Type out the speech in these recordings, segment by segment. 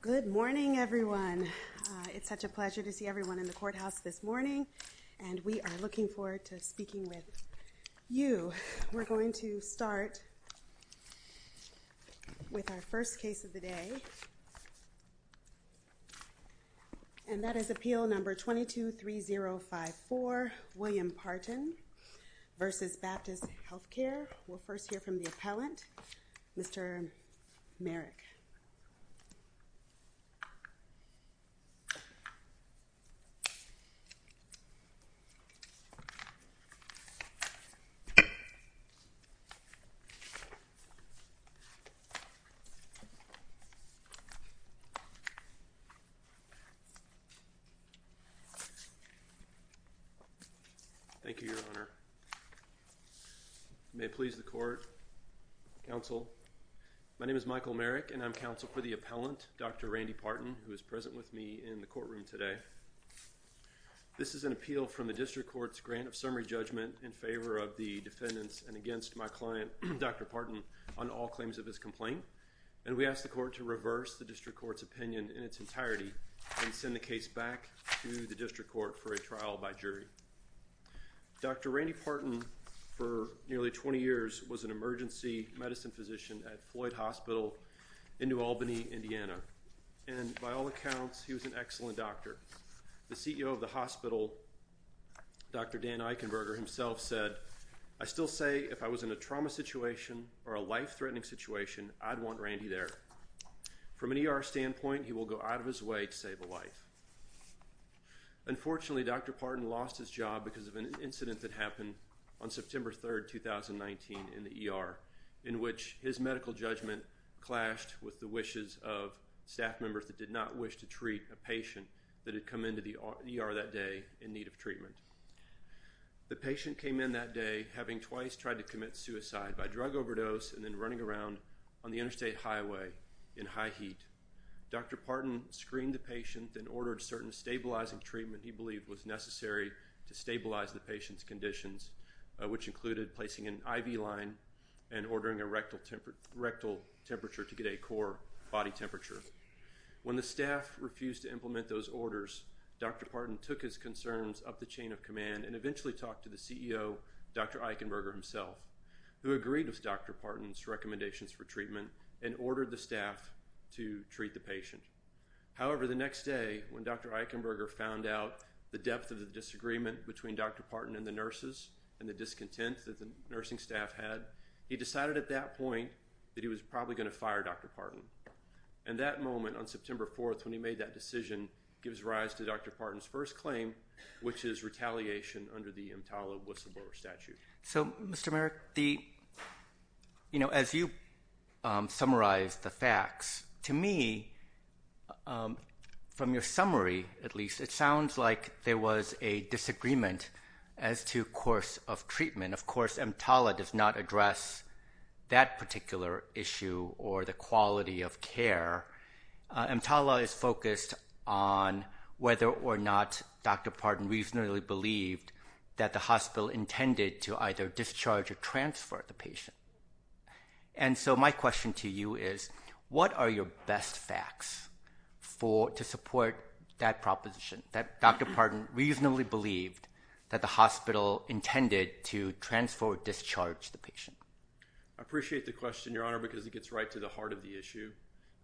Good morning everyone. It's such a pleasure to see everyone in the courthouse this morning and we are looking forward to speaking with you. We're going to start with our first case of the day and that is appeal number 22 3054 William Partin v. Baptist Healthcare. We'll first hear from the court. Michael Merrick. Thank you, Your Honor. May it please the court, counsel, my name is Michael Merrick and I'm counsel for the appellant, Dr. Randy Partin, who is present with me in the courtroom today. This is an appeal from the district court's grant of summary judgment in favor of the defendants and against my client, Dr. Partin, on all claims of his complaint and we asked the court to reverse the district court's opinion in its entirety and send the case back to the district court for a trial by jury. Dr. Randy Partin, for nearly 20 years, was an emergency medicine physician at Floyd Hospital in New Albany, Indiana and by all accounts, he was an excellent doctor. The CEO of the hospital, Dr. Dan Eichenberger, himself said, I still say if I was in a trauma situation or a life-threatening situation, I'd want Randy there. From an ER standpoint, he will go out of his way to save a life. Unfortunately, Dr. Partin lost his job because of an incident that happened on September 3rd, 2019 in the ER in which his medical judgment clashed with the wishes of staff members that did not wish to treat a patient that had come into the ER that day in need of treatment. The patient came in that day having twice tried to commit suicide by drug overdose and then running around on the interstate highway in high heat. Dr. Partin screened the patient and ordered certain stabilizing treatment he the patient's conditions, which included placing an IV line and ordering a rectal temperature to get a core body temperature. When the staff refused to implement those orders, Dr. Partin took his concerns up the chain of command and eventually talked to the CEO, Dr. Eichenberger himself, who agreed with Dr. Partin's recommendations for treatment and ordered the staff to treat the patient. However, the next day when Dr. Eichenberger found out the depth of the disagreement between Dr. Partin and the nurses and the discontent that the nursing staff had, he decided at that point that he was probably going to fire Dr. Partin. And that moment on September 4th when he made that decision gives rise to Dr. Partin's first claim, which is retaliation under the Imtiala whistleblower statute. So, Mr. Merrick, you know, as you summarize the facts, to me from your summary, at least, it sounds like there was a disagreement as to course of treatment. Of course, Imtiala does not address that particular issue or the quality of care. Imtiala is focused on whether or not Dr. Partin reasonably believed that the hospital intended to either discharge or transfer the patient. And so my question to you is, what are your best facts to support that proposition that Dr. Partin reasonably believed that the hospital intended to transfer or discharge the patient? I appreciate the question, Your Honor, because it gets right to the heart of the issue.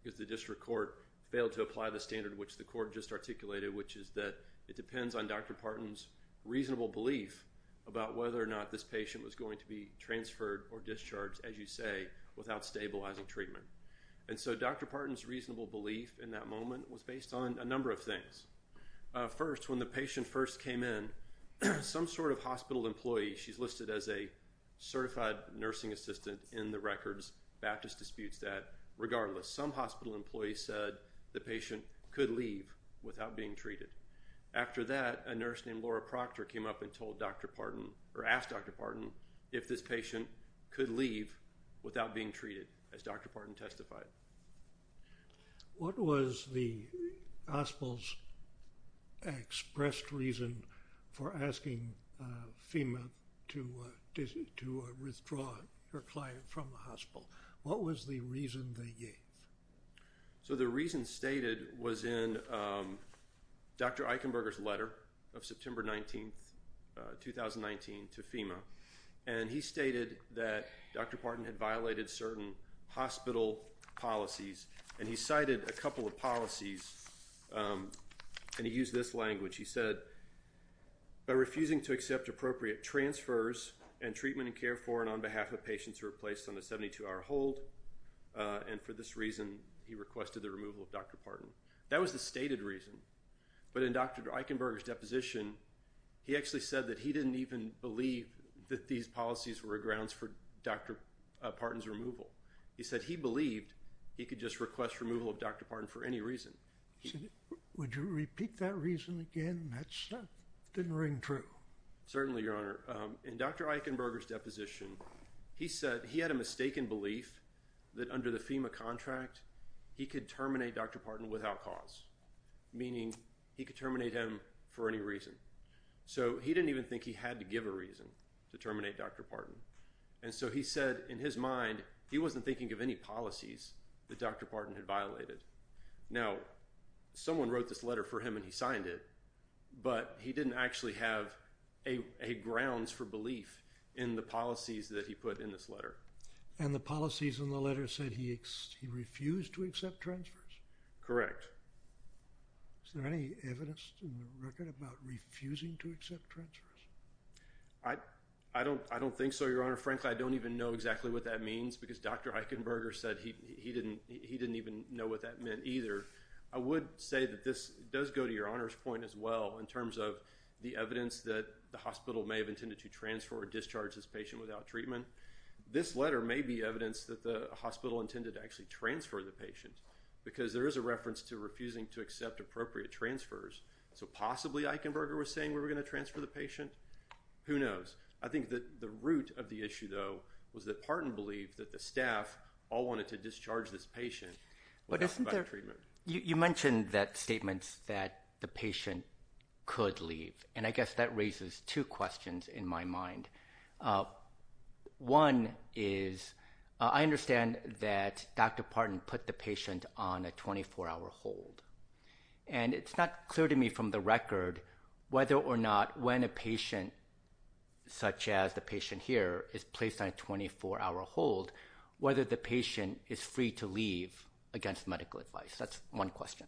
Because the district court failed to apply the standard which the court just articulated, which is that it depends on Dr. Partin's reasonable belief about whether or not this patient was going to be transferred or discharged, as you say, without stabilizing treatment. And so Dr. Partin's reasonable belief in that moment was based on a number of things. First, when the patient first came in, some sort of hospital employee, she's listed as a certified nursing assistant in the records, Baptist disputes that, regardless, some hospital employee said the patient could leave without being treated. After that, a nurse named Laura Proctor came up and told Dr. Partin, or asked Dr. Partin, if this patient could leave without being treated, as Dr. Partin testified. What was the hospital's expressed reason for asking FEMA to withdraw your client from the hospital? What was the reason they gave? So the reason stated was in Dr. Eichenberger's letter of September 19, 2019 to FEMA. And he stated that Dr. Partin had violated certain hospital policies, and he cited a couple of policies, and he used this language. He said, by refusing to accept appropriate transfers and treatment and care for and on behalf of patients who were placed on a 72-hour hold, and for this reason he requested the removal of Dr. Partin. That was the stated reason. But in Dr. Eichenberger's deposition, he actually said that he didn't even believe that these policies were grounds for Dr. Partin's removal. He said he believed he could just request removal of Dr. Partin for any reason. Would you repeat that reason again? That didn't ring true. Certainly, Your Honor. In Dr. Eichenberger's deposition, he said he had a mistaken belief that under the FEMA contract, he could terminate Dr. Partin without cause, meaning he could terminate him for any reason. So he didn't even think he had to give a reason to terminate Dr. Partin. And so he said in his mind, he wasn't thinking of any policies that Dr. Partin had violated. Now, someone wrote this letter for him and he signed it, but he didn't actually have a grounds for belief in the policies that he put in this letter. And the policies in the letter said he refused to accept transfers. Correct. Is there any evidence in the record about refusing to accept transfers? I don't think so, Your Honor. Frankly, I don't even know exactly what that means because Dr. Eichenberger said he didn't even know what that meant either. I would say that this does go to Your Honor's point as well in terms of the evidence that the hospital may have intended to transfer or discharge this patient without treatment. This letter may be evidence that the hospital intended to actually transfer the patient because there is a reference to refusing to accept appropriate transfers. So possibly Eichenberger was saying we were going to transfer the patient? Who knows? I think that the root of the issue, though, was that Partin believed that the staff all wanted to discharge this patient without treatment. You mentioned that statements that the patient could leave, and I guess that raises two questions in my mind. One is, I understand that Dr. Partin put the patient on a 24-hour hold, and it's not clear to me from the record whether or not when a patient such as the patient here is placed on a 24-hour hold, whether the patient is free to leave against medical advice. That's one question.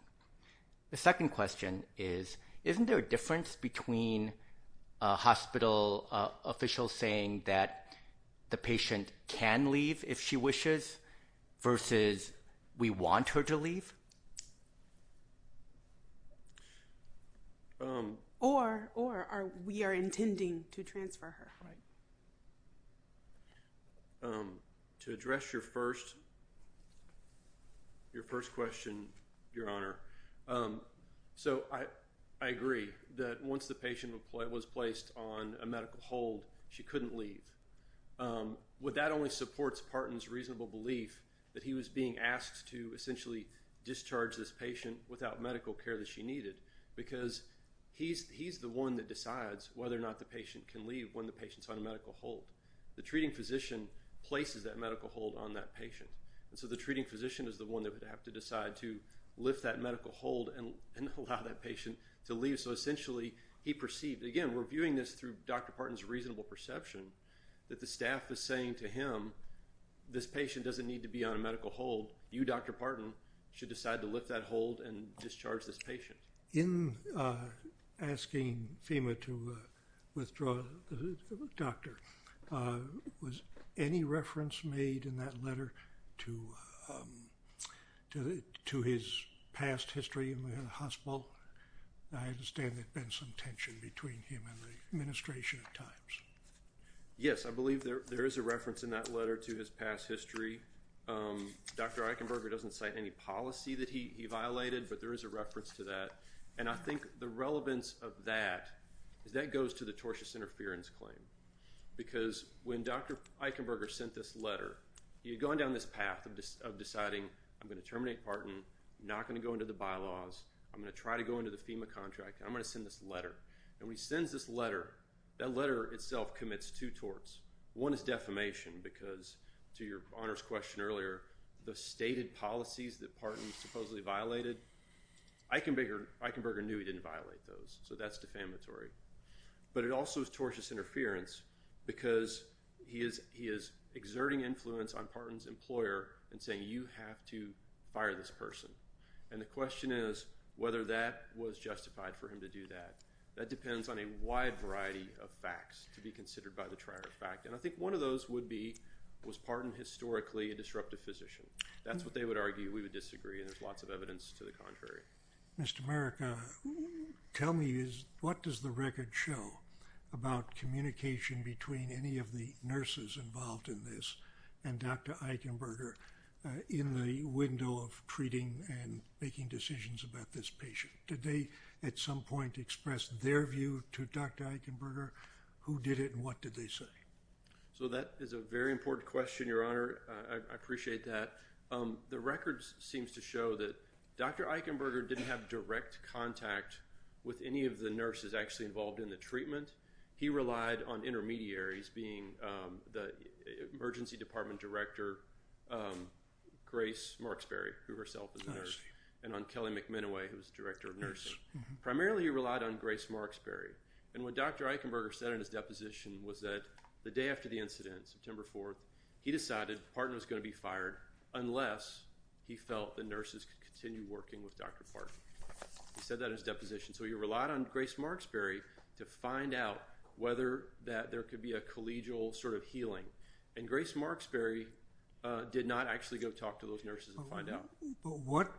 The second question is, isn't there a difference between a hospital official saying that the patient can leave if she wishes versus we want her to leave? Or we are intending to that once the patient was placed on a medical hold, she couldn't leave. Would that only support Partin's reasonable belief that he was being asked to essentially discharge this patient without medical care that she needed? Because he's the one that decides whether or not the patient can leave when the patient's on a medical hold. The treating physician places that medical hold on that patient, and so the treating physician is the one that would have to decide to lift that medical hold and allow that patient to leave so that essentially he perceived. Again, we're viewing this through Dr. Partin's reasonable perception that the staff is saying to him, this patient doesn't need to be on a medical hold. You, Dr. Partin, should decide to lift that hold and discharge this patient. In asking FEMA to withdraw the doctor, was any reference made in that letter to his past history in the hospital? I understand there's been some tension between him and the administration at times. Yes, I believe there there is a reference in that letter to his past history. Dr. Eichenberger doesn't cite any policy that he violated, but there is a reference to that, and I think the relevance of that is that goes to the tortious interference claim. Because when Dr. Eichenberger sent this letter, he had gone down this path of deciding I'm not going to take Partin, I'm not going to go into the bylaws, I'm going to try to go into the FEMA contract, I'm going to send this letter. And when he sends this letter, that letter itself commits two torts. One is defamation, because to your honors question earlier, the stated policies that Partin supposedly violated, Eichenberger knew he didn't violate those, so that's defamatory. But it also is tortious interference because he is exerting influence on Partin's person, and the question is whether that was justified for him to do that. That depends on a wide variety of facts to be considered by the trier of fact, and I think one of those would be was Partin historically a disruptive physician. That's what they would argue, we would disagree, and there's lots of evidence to the contrary. Mr. Merrick, tell me, what does the record show about communication between any of the nurses involved in this and Dr. Eichenberger in the window of treating and making decisions about this patient? Did they at some point express their view to Dr. Eichenberger? Who did it and what did they say? So that is a very important question, your honor. I appreciate that. The records seems to show that Dr. Eichenberger didn't have direct contact with any of the nurses actually involved in the treatment. He relied on Grace Marksberry, who herself is a nurse, and on Kelly McMenoway, who was the director of nursing. Primarily he relied on Grace Marksberry, and what Dr. Eichenberger said in his deposition was that the day after the incident, September 4th, he decided Partin was going to be fired unless he felt the nurses could continue working with Dr. Partin. He said that in his deposition, so he relied on Grace Marksberry to find out whether that there could be a collegial sort of But what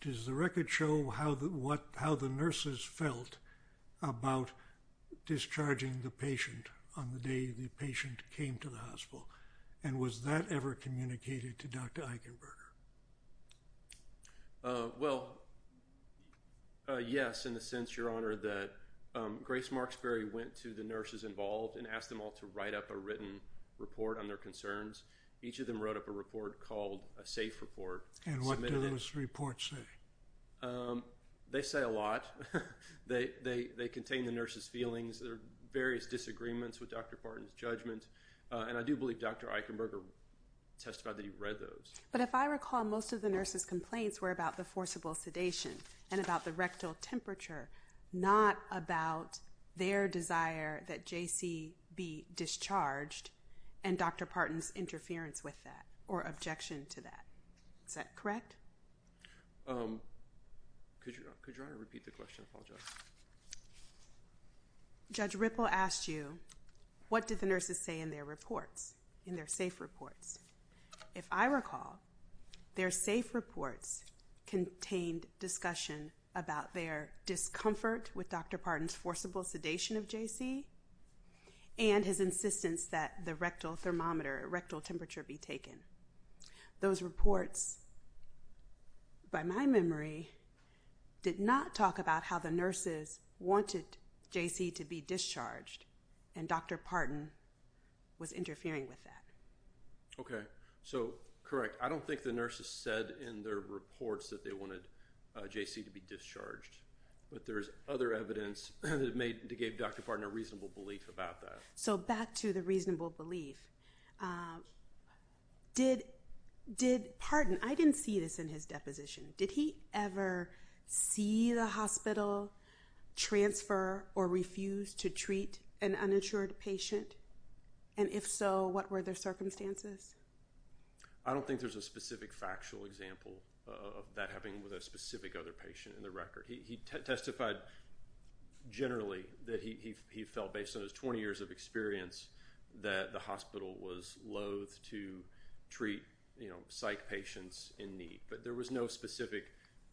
does the record show how the nurses felt about discharging the patient on the day the patient came to the hospital, and was that ever communicated to Dr. Eichenberger? Well, yes, in the sense, your honor, that Grace Marksberry went to the nurses involved and asked them all to write up a written report on their concerns. Each of them wrote up a report called a safe report. And what did those reports say? They say a lot. They contain the nurses' feelings, their various disagreements with Dr. Partin's judgment, and I do believe Dr. Eichenberger testified that he read those. But if I recall, most of the nurses' complaints were about the forcible sedation and about the rectal temperature, not about their desire that J.C. be discharged and Dr. Partin's interference with that or objection to that. Is that correct? Could your honor repeat the question? I apologize. Judge Ripple asked you, what did the nurses say in their reports, in their safe reports? If I recall, their safe reports contained discussion about their discomfort with Dr. Partin's forcible sedation of J.C. and his insistence that the rectal thermometer, rectal temperature be taken. Those reports, by my memory, did not talk about how the nurses wanted J.C. to be discharged and Dr. Partin was interfering with that. Okay. So, correct. I don't think the nurses said in their reports that they wanted J.C. to be discharged. But there's other evidence that gave Dr. Partin a reasonable belief about that. So, back to the reasonable belief. Did Partin, I didn't see this in his deposition, did he ever see the hospital transfer or refuse to treat an uninsured patient? And if so, what were their circumstances? I don't think there's a specific factual example of that happening with a He testified generally that he felt, based on his 20 years of experience, that the hospital was loathe to treat, you know, psych patients in need. But there was no specific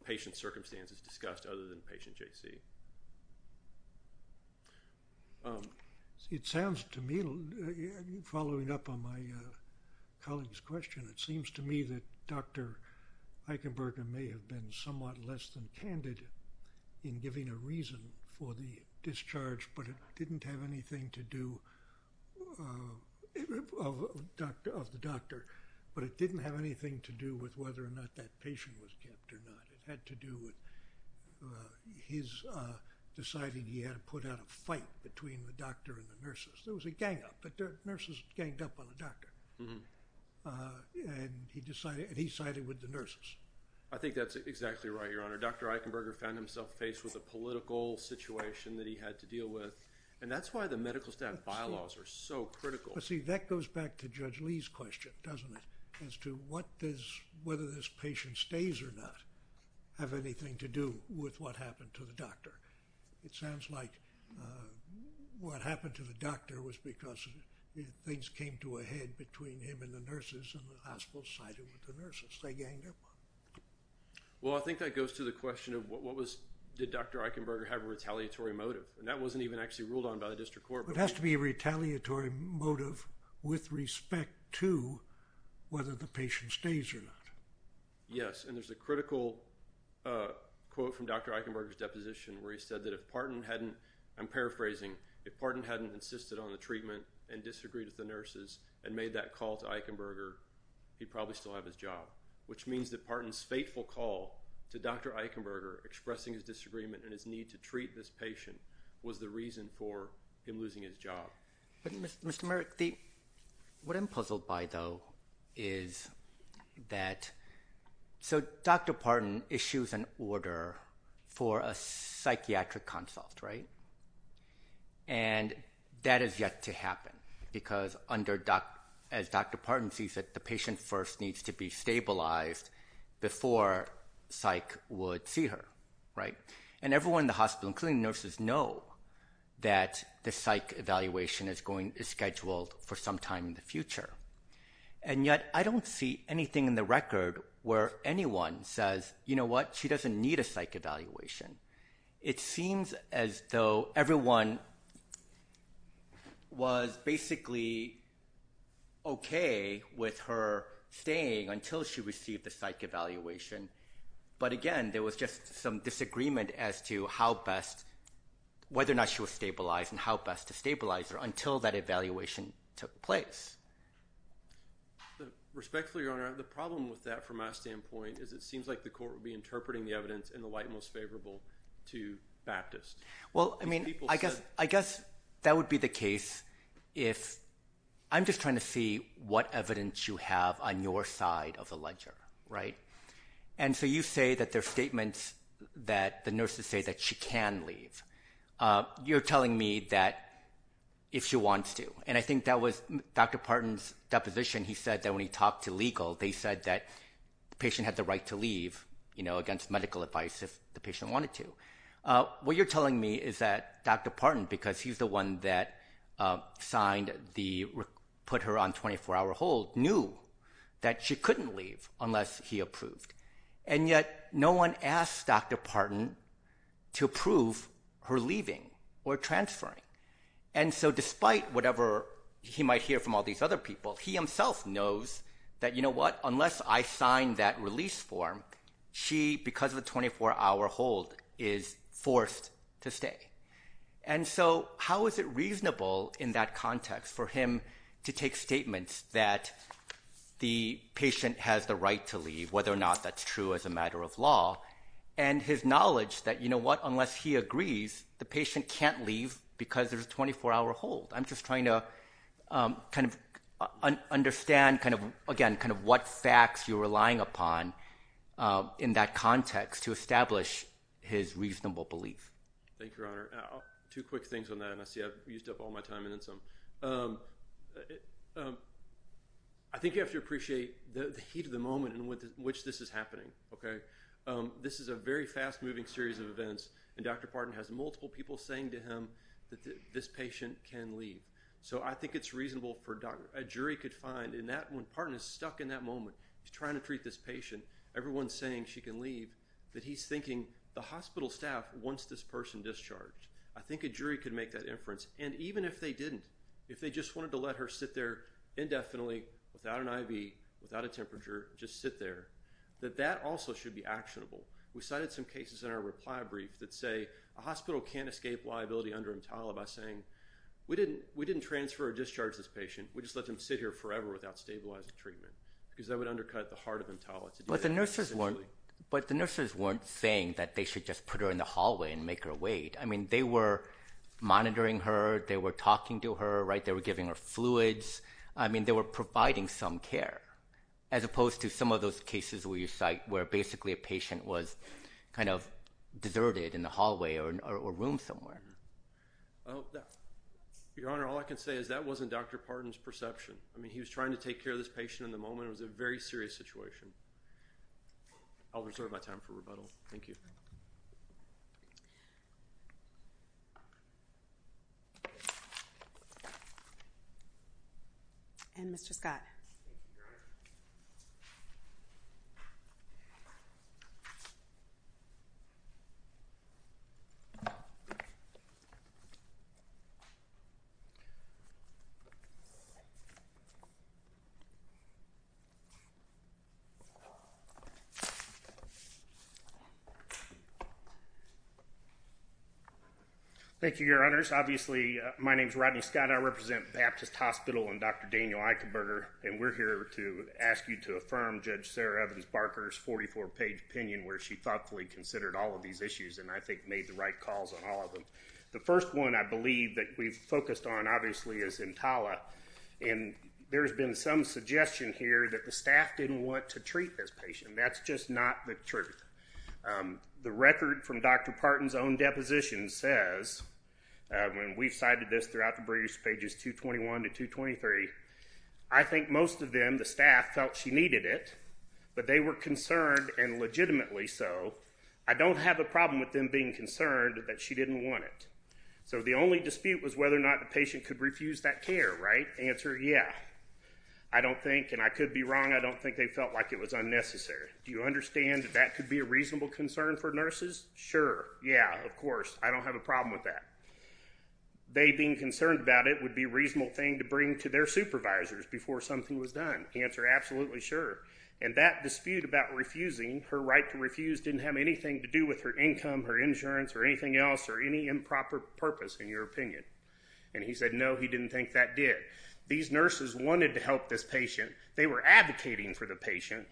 patient circumstances discussed other than patient J.C. It sounds to me, following up on my colleague's question, it seems to me that Dr. Eichenberger may have been somewhat less than candid in giving a reason for the discharge, but it didn't have anything to do of the doctor. But it didn't have anything to do with whether or not that patient was kept or not. It had to do with his deciding he had to put out a fight between the doctor and the nurses. There was a gang up, but the nurses ganged up on the doctor. And he sided with the nurses. I think that's exactly right, Your Honor. Dr. Eichenberger found himself faced with a political situation that he had to deal with, and that's why the medical staff bylaws are so critical. See, that goes back to Judge Lee's question, doesn't it, as to what does, whether this patient stays or not, have anything to do with what happened to the doctor. It sounds like what happened to the doctor was because things came to a head between him and the nurses and the hospital sided with the nurses. They ganged up. Well, I think that goes to the question of what was, did Dr. Eichenberger have a retaliatory motive? And that wasn't even actually ruled on by the district court. It has to be a retaliatory motive with respect to whether the patient stays or not. Yes, and there's a critical quote from Dr. Eichenberger's deposition where he said that if Parton hadn't, I'm paraphrasing, if Parton hadn't insisted on the treatment and disagreed with the nurses and made that call to Eichenberger, he'd probably still have his job, which means that Parton's fateful call to Dr. Eichenberger expressing his disagreement and his need to treat this patient was the reason for him losing his job. Mr. Merrick, what I'm puzzled by, though, is that, so Dr. Parton issues an order for a psychiatric consult, right, and that is yet to happen because under, as Dr. Parton sees it, the patient first needs to be stabilized before psych would see her, right, and everyone in the hospital, including nurses, know that the psych evaluation is going, is scheduled for some time in the future, and yet I don't see anything in the record where anyone says, you know what, she doesn't need a psych evaluation. It seems as though everyone was basically okay with her staying until she received the psych evaluation, but again, there was just some disagreement as to how best, whether or not she was stabilized and how best to stabilize her until that evaluation took place. Respectfully, Your Honor, the problem with that from my standpoint is it seems like the court would be interpreting the evidence in the light most favorable to Baptist. Well, I mean, I guess, I guess that would be the case if, I'm just trying to see what evidence you have on your side of the ledger, right, and so you say that there are statements that the nurses say that she can leave. You're telling me that if she wants to, and I think that was Dr. Parton's deposition. He said that when he talked to legal, they said that the patient wanted to. What you're telling me is that Dr. Parton, because he's the one that signed the, put her on 24-hour hold, knew that she couldn't leave unless he approved, and yet no one asked Dr. Parton to approve her leaving or transferring, and so despite whatever he might hear from all these other people, he himself knows that, you know what, unless I sign that release form, she, because of the 24-hour hold, is forced to stay, and so how is it reasonable in that context for him to take statements that the patient has the right to leave, whether or not that's true as a matter of law, and his knowledge that, you know what, unless he agrees, the patient can't leave because there's a 24-hour hold. I'm just trying to kind of understand kind of, again, kind of what facts you're relying upon in that to establish his reasonable belief. Thank you, Your Honor. Two quick things on that, and I see I've used up all my time in this one. I think you have to appreciate the heat of the moment in which this is happening, okay? This is a very fast-moving series of events, and Dr. Parton has multiple people saying to him that this patient can leave, so I think it's reasonable for a jury could find in that, when Parton is stuck in that moment, he's trying to treat this patient, everyone's saying she can leave, that he is thinking the hospital staff wants this person discharged. I think a jury could make that inference, and even if they didn't, if they just wanted to let her sit there indefinitely, without an IV, without a temperature, just sit there, that that also should be actionable. We cited some cases in our reply brief that say a hospital can't escape liability under EMTALA by saying, we didn't transfer or discharge this patient, we just let them sit here forever without stabilizing treatment, because that would undercut the heart of EMTALA. But the nurses weren't saying that they should just put her in the hallway and make her wait. I mean, they were monitoring her, they were talking to her, right, they were giving her fluids, I mean, they were providing some care, as opposed to some of those cases where you cite, where basically a patient was kind of deserted in the hallway or room somewhere. Your Honor, all I can say is that wasn't Dr. Parton's perception. I mean, he was trying to take care of this patient in the moment, it was a very serious situation. I'll reserve my time for rebuttal. Thank you. Thank you, Your Honors. Obviously, my name is Rodney Scott, I represent Baptist Hospital and Dr. Daniel Eichenberger, and we're here to ask you to affirm Judge Sarah Evans Barker's 44-page opinion where she thoughtfully considered all of these issues and I think made the right calls on all of them. The first one, I believe, that we've focused on, obviously, is EMTALA, and there's been some suggestion here that the staff didn't want to treat this patient. That's just not the truth. The record from Dr. Parton's own deposition says, when we cited this throughout the briefs, pages 221 to 223, I think most of them, the staff, felt she needed it, but they were concerned, and legitimately so, I don't have a problem with them being concerned that she didn't want it. So the only dispute was whether or not the patient could refuse that care, right? Answer, yeah. I don't think, and I could be wrong, I don't think they felt like it was unnecessary. Do you understand that that could be a reasonable concern for nurses? Sure. Yeah, of course. I don't have a problem with that. They being concerned about it would be a reasonable thing to bring to their supervisors before something was done. Answer, absolutely sure. And that dispute about refusing, her right to refuse, didn't have anything to do with her income, her insurance, or anything else, or any improper purpose, in your opinion. And he said, no, he didn't think that did. These nurses wanted to help this patient. They were advocating for the patient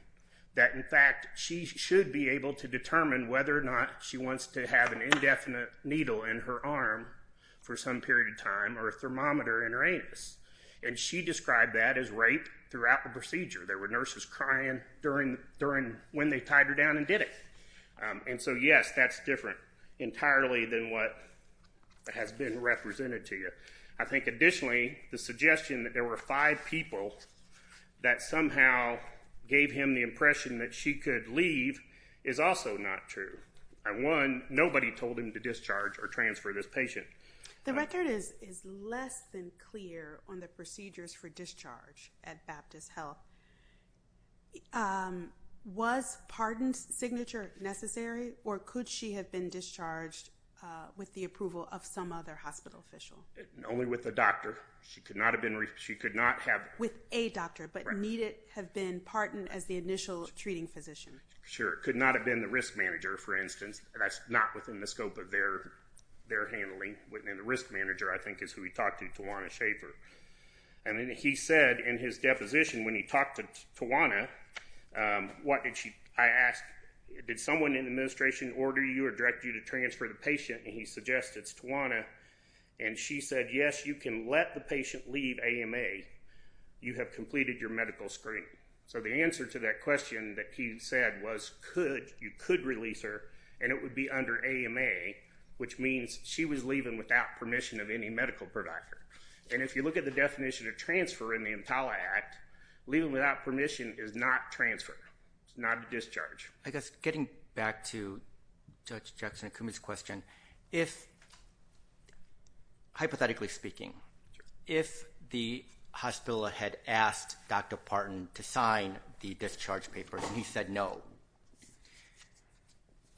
that, in fact, she should be able to determine whether or not she wants to have an indefinite needle in her arm for some period of time, or a thermometer in her anus. And she described that as rape throughout the procedure. There were nurses crying during, during when they tied her down and did it. And so, yes, that's different entirely than what has been represented to you. I think, additionally, the suggestion that there were five people that somehow gave him the impression that she could leave is also not true. And one, nobody told him to discharge or transfer this patient. The record is less than clear on the procedures for discharge at Baptist Health. Was pardon signature necessary, or could she have been discharged with the approval of some other hospital official? Only with a doctor. She could not have been, she could not have... With a doctor, but need it have been pardoned as the initial treating physician. Sure. Could not have been the risk manager, for instance. That's not within the scope of their, their handling. And the risk manager, I think, is who he talked to, Tawana Schaffer. And then he said in his deposition, when he talked to Tawana, what did she, I asked, did someone in the administration order you or direct you to transfer the patient? And he suggested, it's Tawana. And she said, yes, you can let the patient leave AMA. You have completed your medical screening. So the answer to that question that he said was, could, you could release her, and it would be under AMA, which means she was leaving without permission of any medical provider. And if you look at the definition of transfer in the EMTALA Act, leaving without permission is not transfer. It's not a discharge. I guess, getting back to Judge Jackson and Kumi's question, if, hypothetically speaking, if the hospital had asked Dr. Partin to sign the discharge papers, and he said no,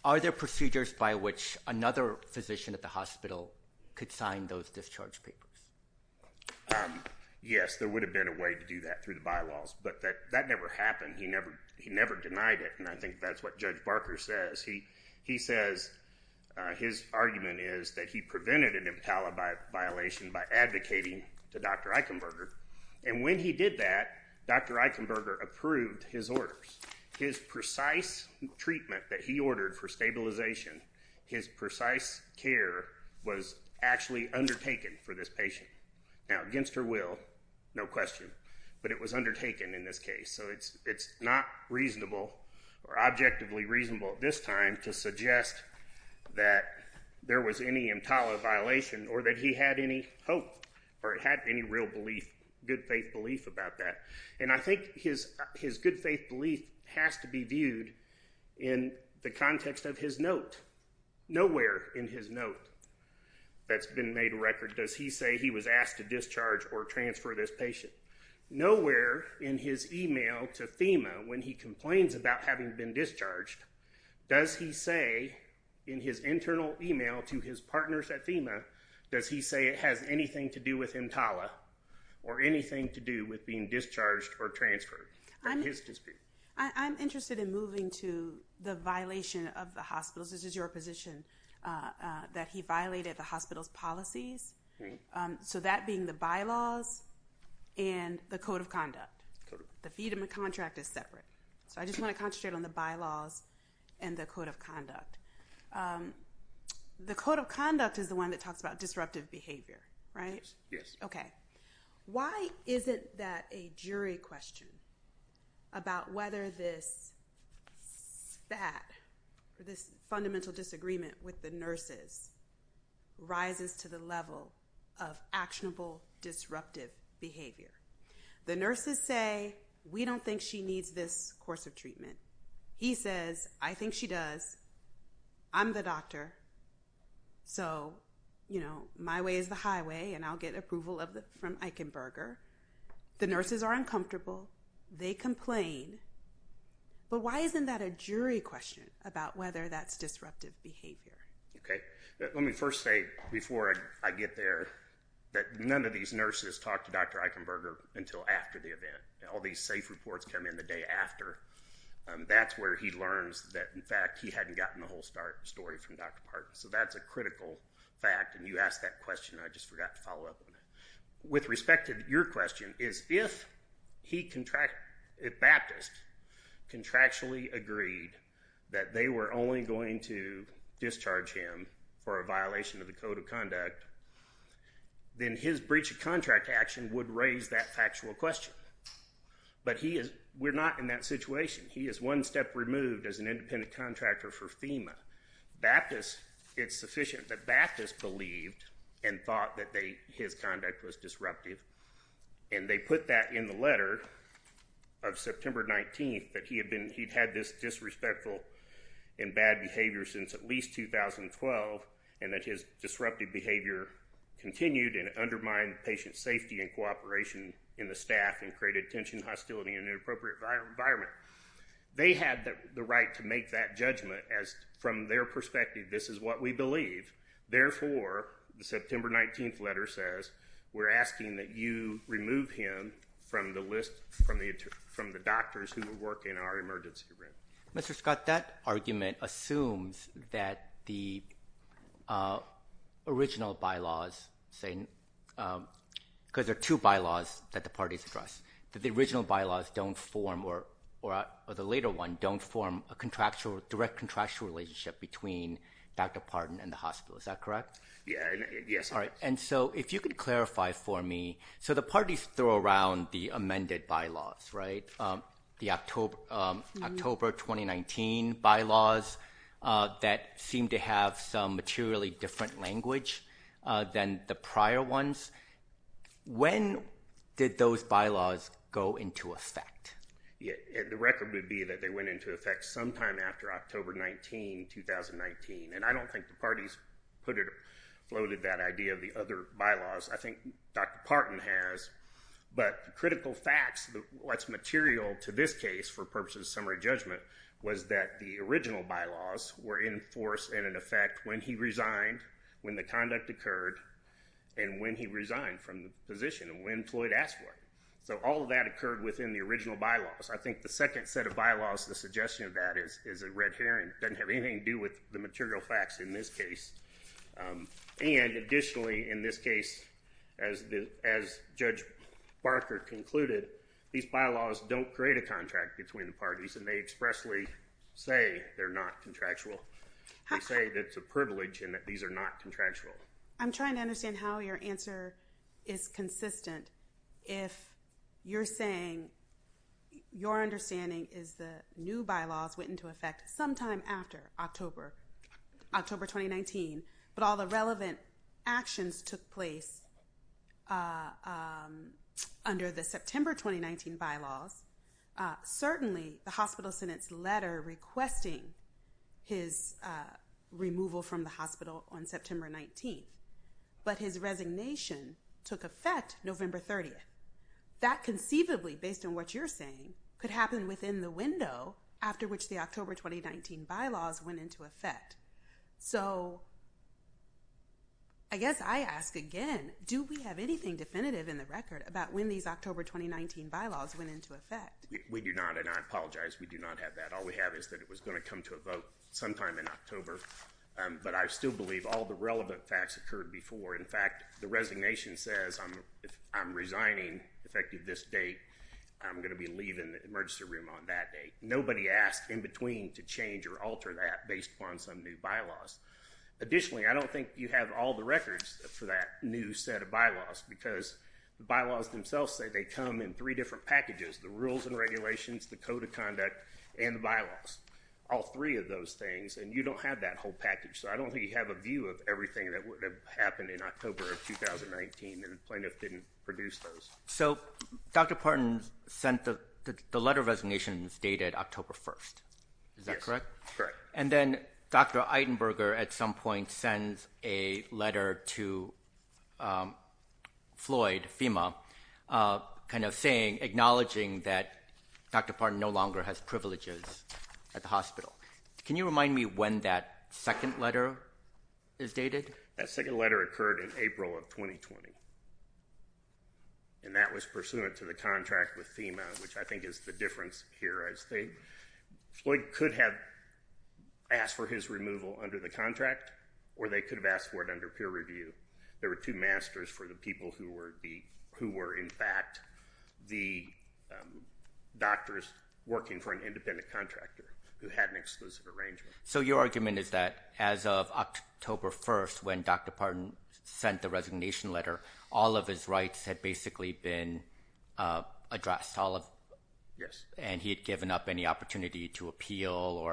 are there procedures by which another physician at the hospital could sign those discharge papers? Yes, there would have been a way to do that through the bylaws, but that, that never happened. He never, he never denied it, and I think that's what Judge Barker says. He, he says, his argument is that he prevented an EMTALA violation by advocating to Dr. Eichenberger, and when he did that, Dr. Eichenberger approved his orders. His precise treatment that he ordered for stabilization, his precise care was actually undertaken for this patient. Now, against her will, no question, but it was undertaken in this case. So it's, it's not reasonable or objectively reasonable at this time to suggest that there was any EMTALA violation or that he had any hope or it had any real belief, good faith belief about that, and I think his, his good faith belief has to be viewed in the context of his note. Nowhere in his note that's been made record does he say he was asked to discharge or transfer this patient. Nowhere in his email to FEMA when he complains about having been discharged, does he say in his internal email to his partners at FEMA, does he say it has anything to do with EMTALA or anything to do with being discharged or transferred? I'm interested in moving to the violation of the hospital's, this is your position, that he violated the hospital's policies. So that being the bylaws and the code of conduct. The freedom of contract is separate. So I believe it's the bylaws and the code of conduct. The code of conduct is the one that talks about disruptive behavior, right? Yes. Okay. Why isn't that a jury question about whether this, that, or this fundamental disagreement with the nurses rises to the level of actionable disruptive behavior? The nurses say we don't think she needs this course of treatment. He says, I think she does. I'm the doctor. So, you know, my way is the highway and I'll get approval of the, from Eichenberger. The nurses are uncomfortable. They complain. But why isn't that a jury question about whether that's disruptive behavior? Okay. Let me first say before I get there that none of these nurses talk to Dr. Eichenberger until after the event. All these safe reports come in the day after. That's where he learns that, in fact, he hadn't gotten the whole story from Dr. Parton. So that's a critical fact and you asked that question. I just forgot to follow up on it. With respect to your question, is if he contract, if Baptist contractually agreed that they were only going to discharge him for a violation of the Code of Conduct, then his breach of contract action would raise that factual question. But he is, we're not in that situation. He is one step removed as an independent contractor for FEMA. Baptist, it's sufficient that Baptist believed and thought that they, his conduct was disruptive and they put that in the letter of September 19th that he had been, he'd had this disrespectful and disruptive behavior continued and undermined patient safety and cooperation in the staff and created tension, hostility, and inappropriate environment. They had the right to make that judgment as, from their perspective, this is what we believe. Therefore, the September 19th letter says we're asking that you remove him from the list, from the doctors who original bylaws saying, because there are two bylaws that the parties addressed, that the original bylaws don't form or the later one don't form a contractual, direct contractual relationship between Dr. Partin and the hospital. Is that correct? Yes. All right. And so if you could clarify for me, so the parties throw around the amended bylaws, right? The October 2019 bylaws that seem to have some materially different language than the prior ones. When did those bylaws go into effect? Yeah, the record would be that they went into effect sometime after October 19, 2019, and I don't think the parties put it, floated that idea of the other bylaws. I think Dr. Partin has, but critical facts, what's material to this case for purposes of summary judgment, was that the original bylaws were in force and in effect when he resigned, when the conduct occurred, and when he resigned from the position, and when Floyd asked for it. So all of that occurred within the original bylaws. I think the second set of bylaws, the suggestion of that is a red herring. Doesn't have anything to do with the material facts in this case. And additionally, in this case, as Judge Barker concluded, these bylaws don't create a contract between the parties and they expressly say they're not contractual. They say that it's a privilege and that these are not contractual. I'm trying to understand how your answer is consistent if you're saying your understanding is the new bylaws went into effect sometime after October, October 2019, but all the relevant actions took place under the September 2019 bylaws. Certainly the hospital sentence letter requesting his removal from the hospital on September 19th, but his resignation took effect November 30th. That conceivably, based on what you're saying, could happen within the window after which the October 2019 bylaws went into effect. So I guess I ask again, do we have anything definitive in the record about when these October 2019 bylaws went into effect? We do not and I do not have that. All we have is that it was going to come to a vote sometime in October, but I still believe all the relevant facts occurred before. In fact, the resignation says I'm resigning effective this date. I'm going to be leaving the emergency room on that date. Nobody asked in between to change or alter that based upon some new bylaws. Additionally, I don't think you have all the records for that new set of bylaws because the bylaws themselves say they come in three different packages. The rules and regulations, the code of conduct, and the bylaws. All three of those things and you don't have that whole package. So I don't think you have a view of everything that would have happened in October of 2019 and the plaintiff didn't produce those. So Dr. Parton sent the letter of resignation dated October 1st. Is that correct? Correct. And then Dr. Eitenberger at some point sends a letter to Floyd, FEMA, kind of saying, acknowledging that Dr. Parton no longer has privileges at the hospital. Can you remind me when that second letter is dated? That second letter occurred in April of 2020 and that was pursuant to the contract with FEMA, which I think is the difference here. Floyd could have asked for his removal under the contract or they could have asked for it under peer review. There were two masters for the people who were in fact the doctors working for an independent contractor who had an exclusive arrangement. So your argument is that as of October 1st when Dr. Parton sent the resignation letter, all of his rights had basically been addressed. Yes. And he had given up any opportunity to amend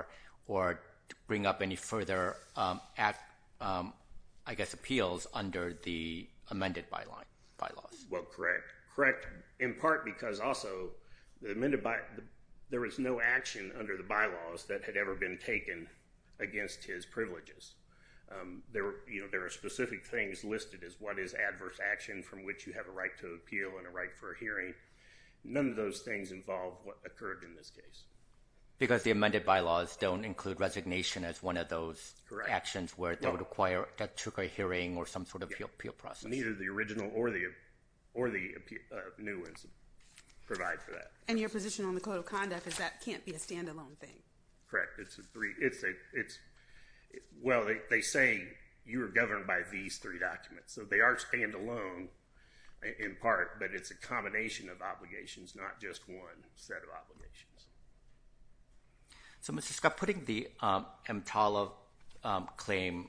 the bylaws. Well, correct. Correct in part because also the amended by there was no action under the bylaws that had ever been taken against his privileges. There were, you know, there are specific things listed as what is adverse action from which you have a right to appeal and a right for a hearing. None of those things involve what occurred in this case. Because the amended bylaws don't include resignation as one of those actions where they process. Neither the original or the or the new ones provide for that. And your position on the code of conduct is that can't be a standalone thing. Correct. It's a three. It's a it's well they say you are governed by these three documents. So they are standalone in part but it's a combination of obligations not just one set of obligations. So Mr. Scott, putting the MTALA claim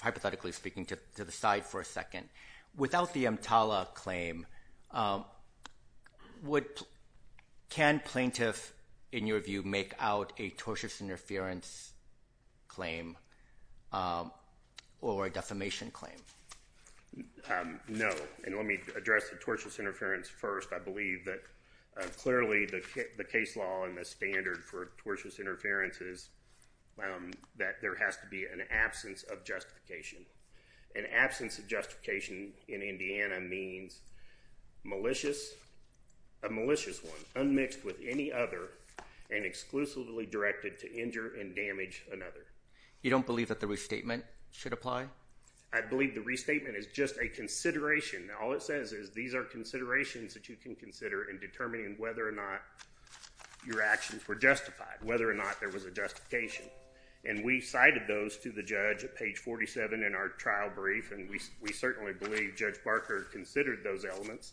hypothetically speaking to the side for a second, without the MTALA claim what can plaintiff in your view make out a tortious interference claim or a defamation claim? No. And let me address the tortious interference first. I believe that clearly the case law and the standard for tortious interference is an absence of justification. An absence of justification in Indiana means malicious, a malicious one, unmixed with any other and exclusively directed to injure and damage another. You don't believe that the restatement should apply? I believe the restatement is just a consideration. All it says is these are considerations that you can consider in determining whether or not your actions were justified. Whether or not there was a justification. And we cited those to the judge at page 47 in our trial brief and we certainly believe Judge Barker considered those elements.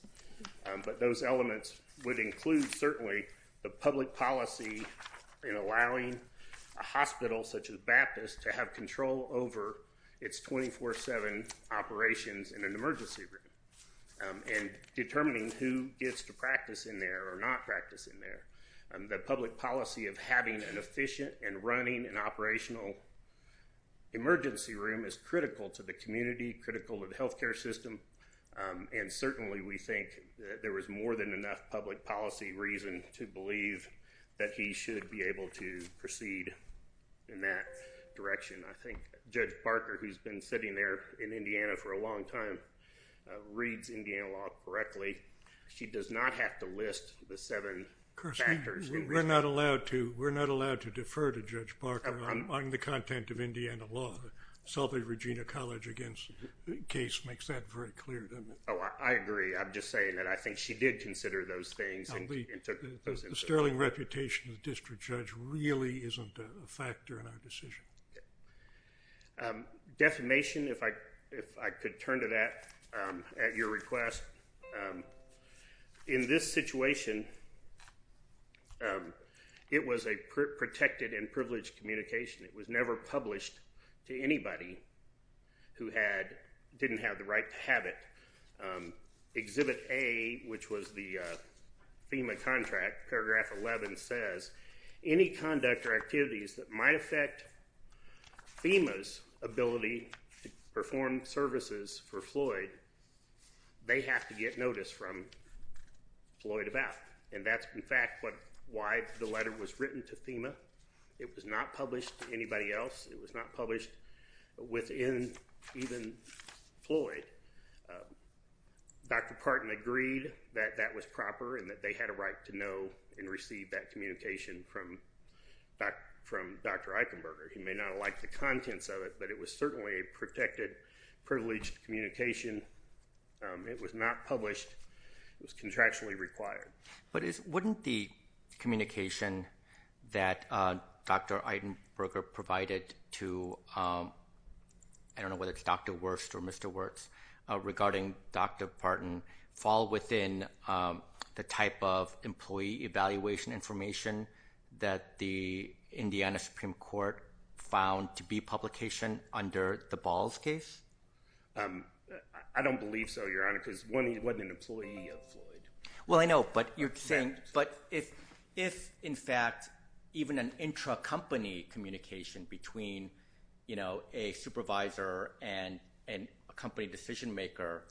But those elements would include certainly the public policy in allowing a hospital such as Baptist to have control over its 24-7 operations in an emergency room and determining who gets to practice in there or not practice in there. The public policy of having an efficient and running and operational emergency room is critical to the community, critical of the health care system, and certainly we think there was more than enough public policy reason to believe that he should be able to proceed in that direction. I think Judge Barker, who's been sitting there in Indiana for a long time, reads Indiana law correctly. She does not have to list the seven factors. We're not allowed to. We're not allowed to defer to Judge Barker on the content of Indiana law. The Selby-Regina College against case makes that very clear. Oh, I agree. I'm just saying that I think she did consider those things. The sterling reputation of the district judge really isn't a factor in our decision. Defamation, if I could turn to that at your request. In this case, it was a protected and privileged communication. It was never published to anybody who didn't have the right to have it. Exhibit A, which was the FEMA contract, paragraph 11 says, any conduct or activities that might affect FEMA's ability to perform services for Floyd, they have to get notice from Floyd about. And that's, in fact, why the letter was written to FEMA. It was not published to anybody else. It was not published within even Floyd. Dr. Parton agreed that that was proper and that they had a right to know and receive that communication from Dr. Eichenberger. He may not have liked the contents of it, but it was certainly a protected, privileged communication. It was not published. It was contractually required. But wouldn't the communication that Dr. Eichenberger provided to, I don't know whether it's Dr. Wurst or Mr. Wurst, regarding Dr. Parton fall within the type of employee evaluation information that the Indiana Supreme Court found to be publication under the Balls case? I don't believe so, Your Honor, because one, he wasn't an employee of Floyd. Well, I know, but you're saying, but if in fact even an intra-company communication between, you know, a supervisor and a company decision-maker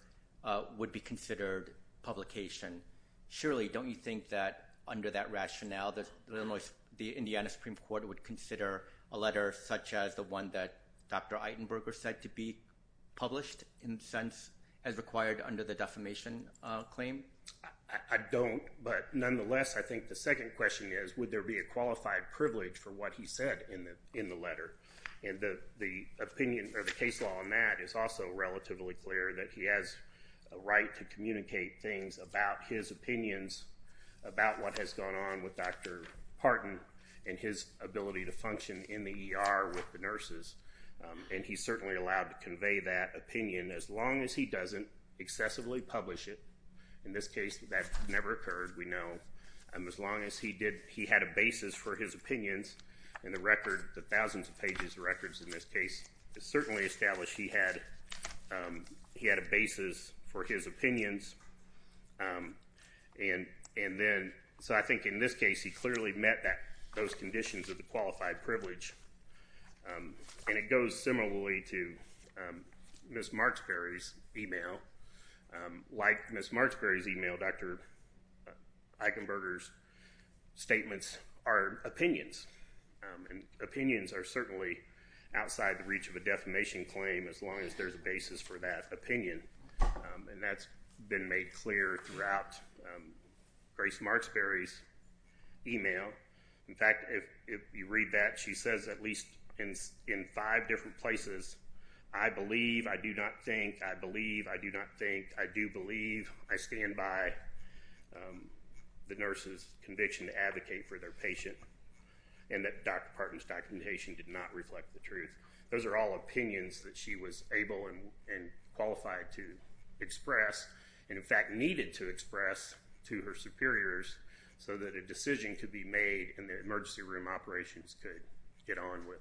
would be considered publication, surely don't you think that under that rationale the Indiana Supreme Court would consider a letter such as the one that Dr. Eichenberger said to be published, in a sense, as required under the defamation claim? I don't, but nonetheless I think the second question is, would there be a qualified privilege for what he said in the letter? And the opinion or the case law on that is also relatively clear that he has a right to communicate things about his opinions about what has gone on with Dr. Parton and his ability to function in the ER with the nurses, and he's certainly allowed to convey that opinion as long as he doesn't excessively publish it. In this case, that never occurred, we know, and as long as he did, he had a basis for his opinions, and the record, the thousands of pages records in this case, is certainly established he had, he had a basis for his opinions, and then, so I think in this case he clearly met that those conditions of the qualified privilege, and it goes similarly to Ms. Marksberry's email. Like Ms. Marksberry's email, Dr. Eichenberger's statements are opinions, and opinions are certainly outside the reach of a defamation claim as long as there's a Grace Marksberry's email. In fact, if you read that, she says at least in five different places, I believe, I do not think, I believe, I do not think, I do believe, I stand by the nurse's conviction to advocate for their patient, and that Dr. Parton's documentation did not reflect the truth. Those are all opinions that she was able and qualified to express, and in fact needed to be reviewed by her superiors so that a decision could be made, and the emergency room operations could get on with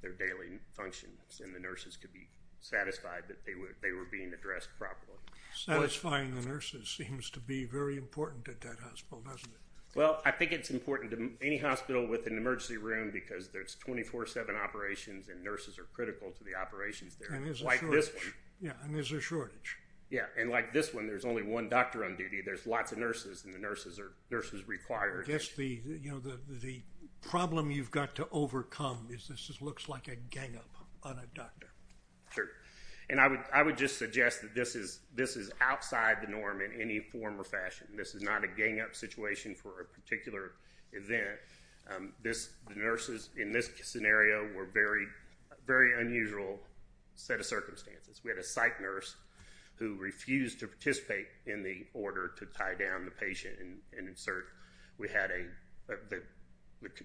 their daily functions, and the nurses could be satisfied that they were, they were being addressed properly. Satisfying the nurses seems to be very important at that hospital, doesn't it? Well, I think it's important to any hospital with an emergency room because there's 24-7 operations, and nurses are critical to the operations there, like this one. Yeah, and there's a shortage. Yeah, and like this one, there's only one doctor on the nurses, or nurses required. Yes, the, you know, the problem you've got to overcome is this just looks like a gang-up on a doctor. Sure, and I would, I would just suggest that this is, this is outside the norm in any form or fashion. This is not a gang-up situation for a particular event. This, the nurses in this scenario were very, very unusual set of circumstances. We had a psych nurse who refused to participate in the order to tie down the patient and insert. We had a, the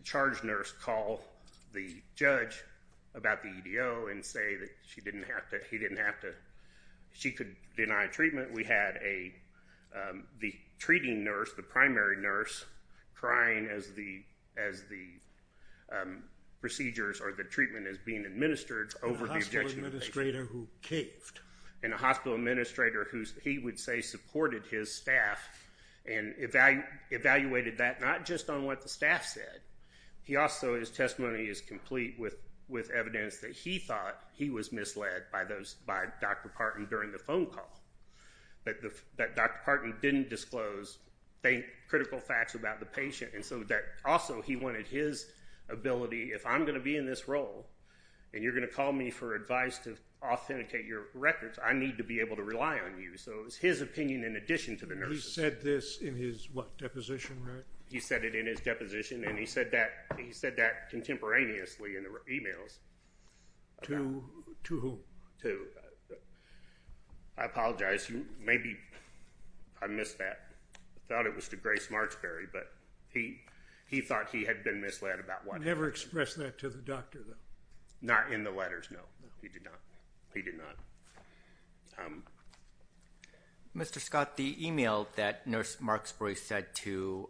charge nurse call the judge about the EDO and say that she didn't have to, he didn't have to, she could deny treatment. We had a, the treating nurse, the primary nurse, crying as the, as the procedures or the treatment is being provided. We had a provider who's, he would say, supported his staff and evaluated that, not just on what the staff said. He also, his testimony is complete with, with evidence that he thought he was misled by those, by Dr. Partin during the phone call, but the, that Dr. Partin didn't disclose, they, critical facts about the patient, and so that also he wanted his ability, if I'm going to be in this role and you're going to call me for advice to authenticate your records, I need to be able to rely on you. So it was his opinion in addition to the nurse's. He said this in his, what, deposition, right? He said it in his deposition, and he said that, he said that contemporaneously in the emails. To, to whom? To, I apologize, maybe I missed that. I thought it was to Grace Marksberry, but he, he thought he had been misled about what happened. He never expressed that to the doctor, though? Not in the letters, no. He did not. He did not. Mr. Scott, the email that Nurse Marksberry said to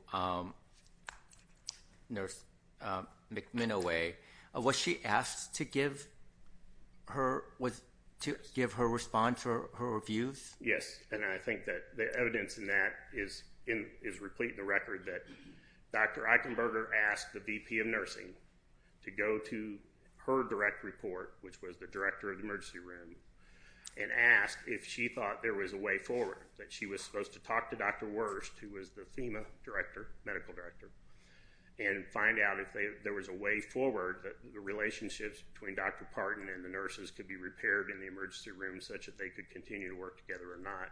Nurse McMenoway, was she asked to give her, was, to give her response or her reviews? Yes, and I think that the evidence in that is in, is replete in the record that Dr. Eichenberger asked the VP of Nursing to go to her direct report, which was the director of the emergency room, and asked if she thought there was a way forward, that she was supposed to talk to Dr. Wurst, who was the FEMA director, medical director, and find out if there was a way forward that the relationships between Dr. Partin and the nurses could be repaired in the emergency room such that they could continue to work together or not,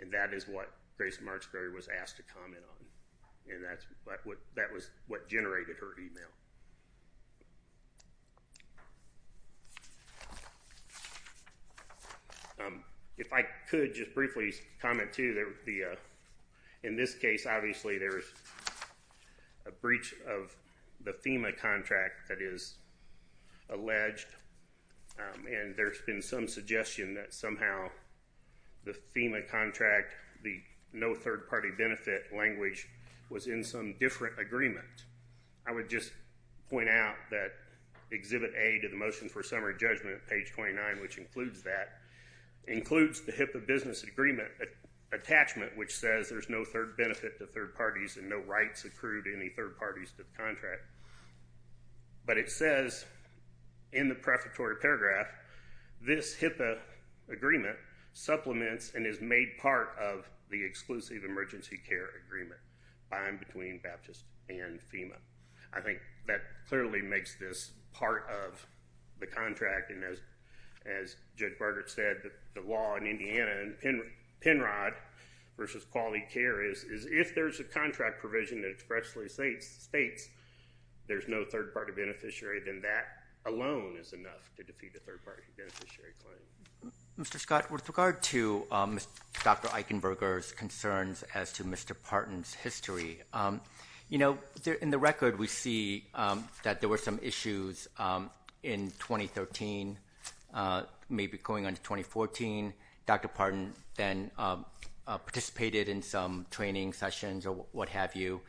and that is what Grace Marksberry was asked to comment on, and that's what, that was what generated her email. If I could just briefly comment, too, that the, in this case, obviously, there is a breach of the FEMA contract that is alleged, and there's been some suggestion that somehow the FEMA contract, the no third-party benefit language, was in some different agreement. I would just point out that Exhibit A to the Motion for Summary Judgment, page 29, which includes that, includes the HIPAA business agreement attachment, which says there's no third benefit to third parties and no rights accrued to any third parties to the contract, but it says in the prefatory paragraph, this HIPAA agreement supplements and is made part of the exclusive emergency care agreement between Baptist and FEMA. I think that clearly makes this part of the contract, and as Judge Berger said, the law in Indiana, Penrod versus Quality Care, is if there's a contract provision that expressly states there's no third-party beneficiary, then that alone is enough to defeat a third-party beneficiary claim. Mr. Scott, with regard to Dr. Eichenberger's concerns as to Mr. Parton's history, you know, in the record we see that there were some issues in 2013, maybe going on to 2014. Dr. Parton then participated in some training sessions or what have you.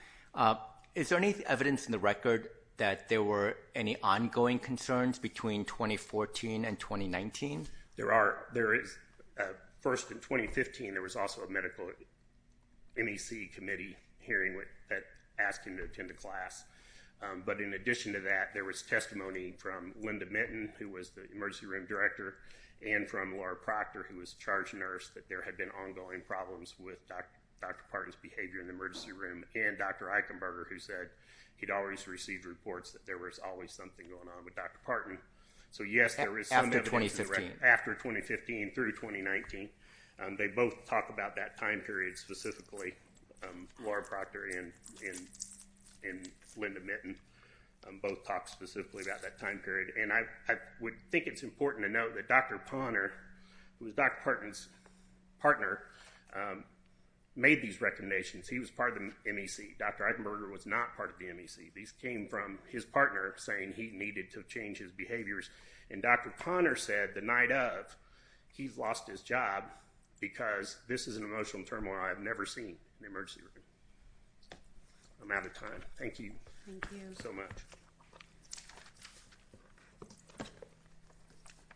Is there any evidence in the record that there were any ongoing concerns between 2014 and 2019? There are. There is. First, in 2015, there was also a medical MEC committee hearing that asked him to attend a class, but in addition to that, there was testimony from Linda Minton, who was the emergency room director, and from Laura Proctor, who was charged nurse, that there had been ongoing problems with Dr. Parton's behavior in the emergency room, and Dr. Eichenberger, who said he'd always received reports that there was always something going on with Dr. Parton. So, yes, there is. After 2015? After 2015 through 2019. They both talked about that time period specifically. Laura Proctor and Linda Minton both talked specifically about that time period, and I would think it's important to note that Dr. Ponner, who was Dr. Parton's partner, made these recommendations. He was part of the MEC. Dr. Eichenberger was not part of the MEC. These came from his partner saying he needed to change his behaviors, and Dr. Ponner said the night of, he's lost his job because this is an emotional turmoil I've never seen in the emergency room. I'm out of time. Thank you so much.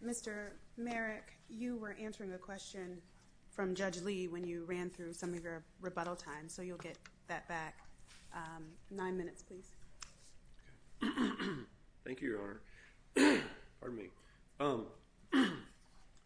Mr. Merrick, you were answering a question from Judge Lee when you ran through some of your rebuttal time, so you'll get that back. Nine minutes, please. Thank you, Your Honor. Pardon me.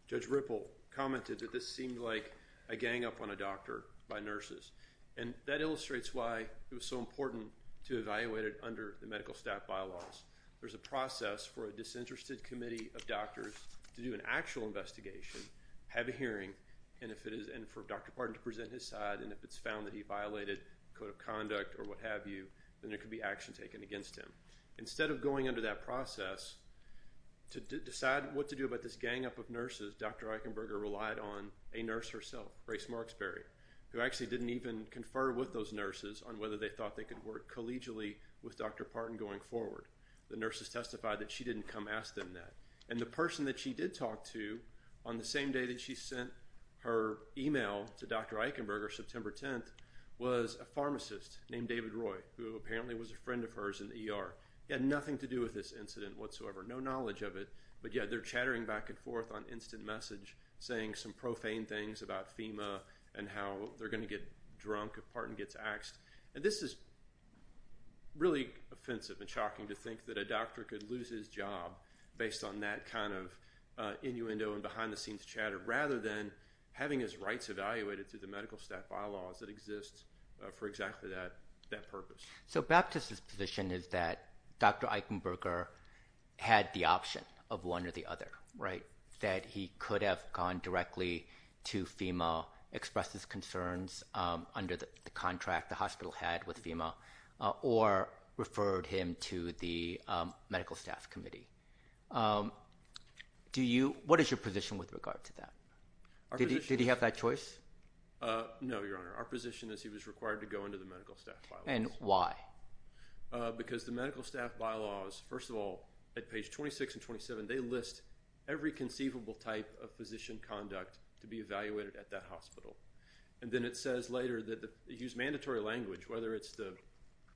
Judge Ripple commented that this seemed like a gang up on a doctor by nurses, and that illustrates why it was so important to evaluate it under the medical staff bylaws. There's a process for a disinterested committee of doctors to do an actual investigation, have a hearing, and for Dr. Parton to present his side, and if it's found that he violated code of conduct or what have you, then there could be action taken against him. Instead of going under that process to decide what to do about this gang up of nurses, Dr. Eichenberger relied on a nurse herself, Grace Marksberry, who actually didn't even confer with those nurses on whether they thought they could work collegially with Dr. Parton going forward. The nurses testified that she didn't come ask them that, and the person that she did talk to on the same day that she sent her email to Dr. Eichenberger, September 10th, was a pharmacist named David Roy, who apparently was a friend of hers in the ER. He had nothing to do with this incident whatsoever, no knowledge of it, but yet they're chattering back and forth on instant message saying some profane things about FEMA and how they're gonna get drunk if Parton gets axed, and this is really offensive and shocking to think that a doctor could lose his job based on that kind of innuendo and behind-the-scenes chatter rather than having his rights evaluated through the medical staff bylaws that exist for exactly that purpose. So Baptist's position is that Dr. Eichenberger had the option of one or the other, right? That he could have gone directly to FEMA, expressed his concerns under the contract the hospital had with the medical staff committee. Do you, what is your position with regard to that? Did he have that choice? No, Your Honor. Our position is he was required to go into the medical staff bylaws. And why? Because the medical staff bylaws, first of all, at page 26 and 27, they list every conceivable type of physician conduct to be evaluated at that hospital, and then it says later that the, they use mandatory language, whether it's the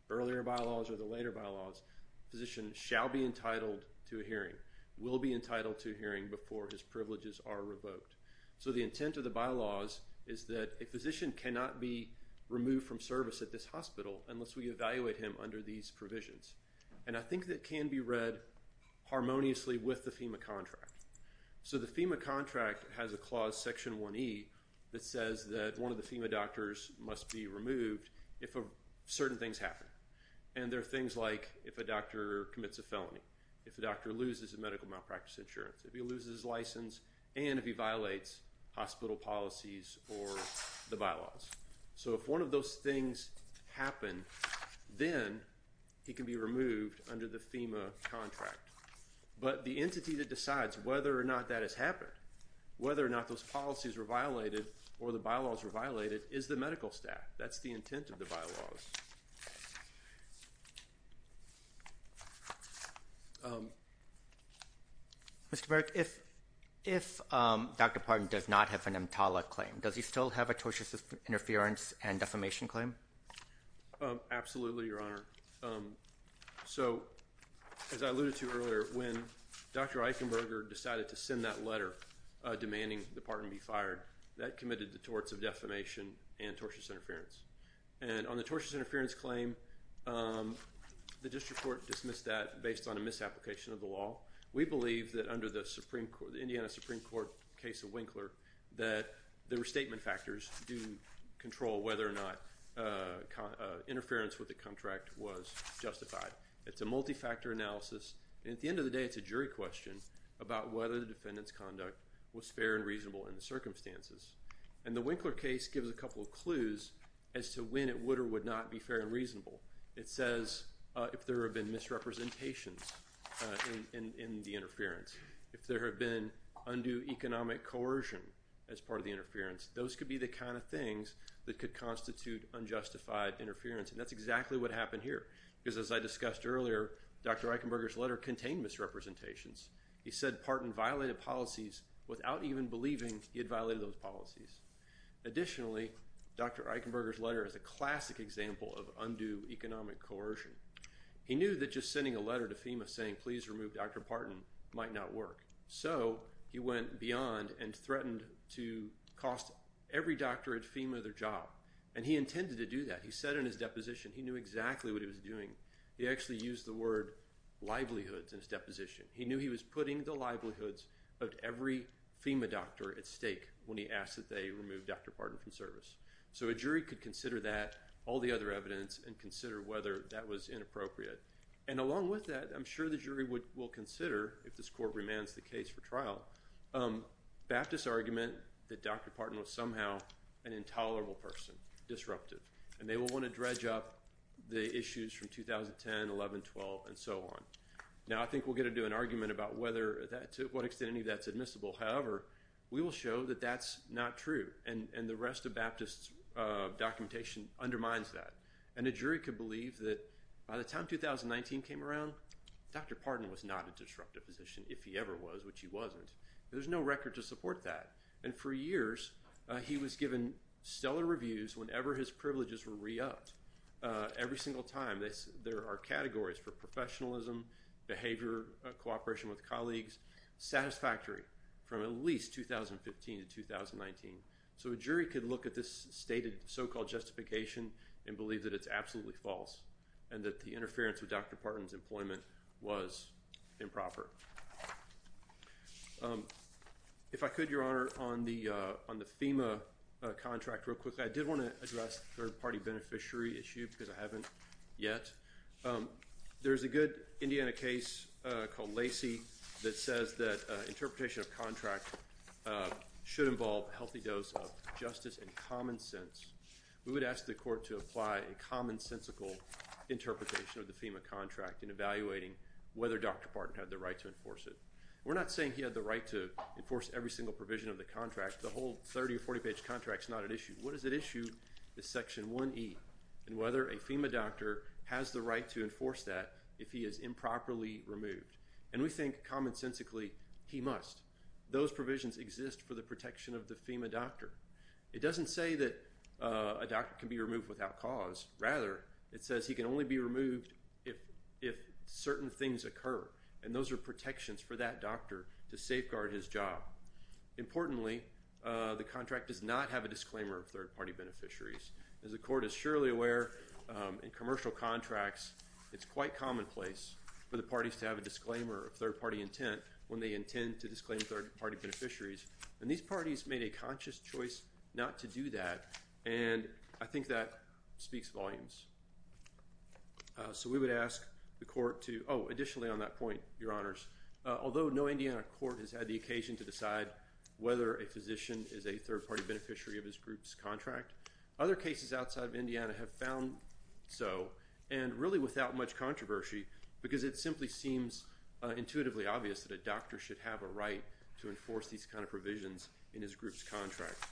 earlier bylaws or the later bylaws, physician shall be entitled to a hearing, will be entitled to a hearing before his privileges are revoked. So the intent of the bylaws is that a physician cannot be removed from service at this hospital unless we evaluate him under these provisions. And I think that can be read harmoniously with the FEMA contract. So the FEMA contract has a clause, section 1e, that says that one of the FEMA doctors must be removed if certain things happen. And there are things like if a doctor commits a felony, if a doctor loses a medical malpractice insurance, if he loses his license, and if he violates hospital policies or the bylaws. So if one of those things happen, then he can be removed under the FEMA contract. But the entity that decides whether or not that has happened, whether or not those policies were violated or the bylaws were violated, is the medical staff. That's the intent of the bylaws. Mr. Burke, if Dr. Parton does not have an EMTALA claim, does he still have a tortious interference and defamation claim? Absolutely, Your Honor. So as I alluded to earlier, when Dr. Eichenberger decided to send that letter demanding that Parton be fired, that committed the torts of defamation and tortious interference. And on the tortious interference claim, the district court dismissed that based on a misapplication of the law. We believe that under the Supreme Court, the Indiana Supreme Court case of Winkler, that the restatement factors do control whether or not interference with the contract was justified. It's a multi-factor analysis. At the end of the day, it's a jury question about whether the defendant's conduct was fair and reasonable. It says if there have been misrepresentations in the interference, if there have been undue economic coercion as part of the interference, those could be the kind of things that could constitute unjustified interference. And that's exactly what happened here, because as I discussed earlier, Dr. Eichenberger's letter contained misrepresentations. He said Parton violated policies without even believing he had violated those policies. Additionally, Dr. Eichenberger's letter is a classic example of undue economic coercion. He knew that just sending a letter to FEMA saying please remove Dr. Parton might not work, so he went beyond and threatened to cost every doctor at FEMA their job, and he intended to do that. He said in his deposition he knew exactly what he was doing. He actually used the word livelihoods in his deposition. He knew he was putting the livelihoods of every FEMA doctor at FEMA to remove Dr. Parton from service. So a jury could consider that, all the other evidence, and consider whether that was inappropriate. And along with that, I'm sure the jury would will consider, if this court remands the case for trial, Baptist's argument that Dr. Parton was somehow an intolerable person, disruptive, and they will want to dredge up the issues from 2010, 11, 12, and so on. Now I think we'll get to do an argument about whether that, to what extent any of that's not true, and the rest of Baptist's documentation undermines that. And a jury could believe that by the time 2019 came around, Dr. Parton was not a disruptive position, if he ever was, which he wasn't. There's no record to support that, and for years he was given stellar reviews whenever his privileges were re-upped. Every single time, there are categories for professionalism, behavior, cooperation with colleagues, satisfactory from at least 2015 to 2019. So a jury could look at this stated so-called justification, and believe that it's absolutely false, and that the interference with Dr. Parton's employment was improper. If I could, Your Honor, on the FEMA contract real quickly, I did want to address the third-party beneficiary issue, because I haven't yet. There's a good Indiana case called Lacey that says that we would ask the court to apply a commonsensical interpretation of the FEMA contract in evaluating whether Dr. Parton had the right to enforce it. We're not saying he had the right to enforce every single provision of the contract. The whole 30 or 40-page contract is not at issue. What is at issue is Section 1E, and whether a FEMA doctor has the right to enforce that if he is improperly removed. And we think, commonsensically, he must. Those provisions exist for the doctor. It doesn't say that a doctor can be removed without cause. Rather, it says he can only be removed if certain things occur, and those are protections for that doctor to safeguard his job. Importantly, the contract does not have a disclaimer of third-party beneficiaries. As the court is surely aware, in commercial contracts, it's quite commonplace for the parties to have a disclaimer of third-party intent when they intend to disclaim third-party beneficiaries, and these parties made a conscious choice not to do that, and I think that speaks volumes. So we would ask the court to, oh, additionally on that point, Your Honors, although no Indiana court has had the occasion to decide whether a physician is a third-party beneficiary of this group's contract, other cases outside of Indiana have found so, and really without much controversy, because it simply seems intuitively obvious that a doctor should have a right to enforce these kind of provisions in his group's contract.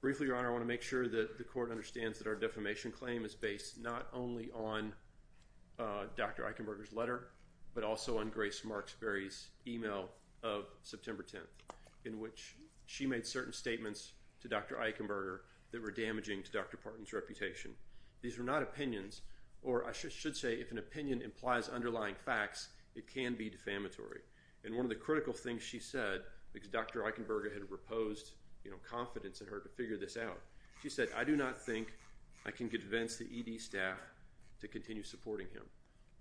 Briefly, Your Honor, I want to make sure that the court understands that our defamation claim is based not only on Dr. Eichenberger's letter, but also on Grace Marksberry's email of September 10th, in which she made certain statements to Dr. Eichenberger that were damaging to Dr. Parton's reputation. These were not opinions, or I should say if an opinion implies underlying facts, it can be defamatory, and one of the critical things she said, because Dr. Eichenberger had reposed, you know, confidence in her to figure this out, she said, I do not think I can convince the ED staff to continue supporting him.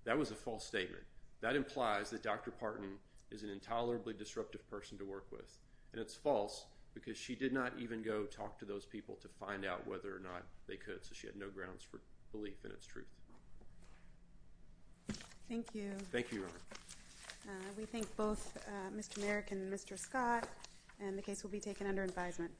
That was a false statement. That implies that Dr. Parton is an intolerably disruptive person to work with, and it's false, because she did not even go talk to those people to find out whether or not they could, so she had no grounds for belief in its truth. Thank you. Thank you, Your Honor. We thank both Mr. Merrick and Mr. Scott, and the case will be taken under advisement.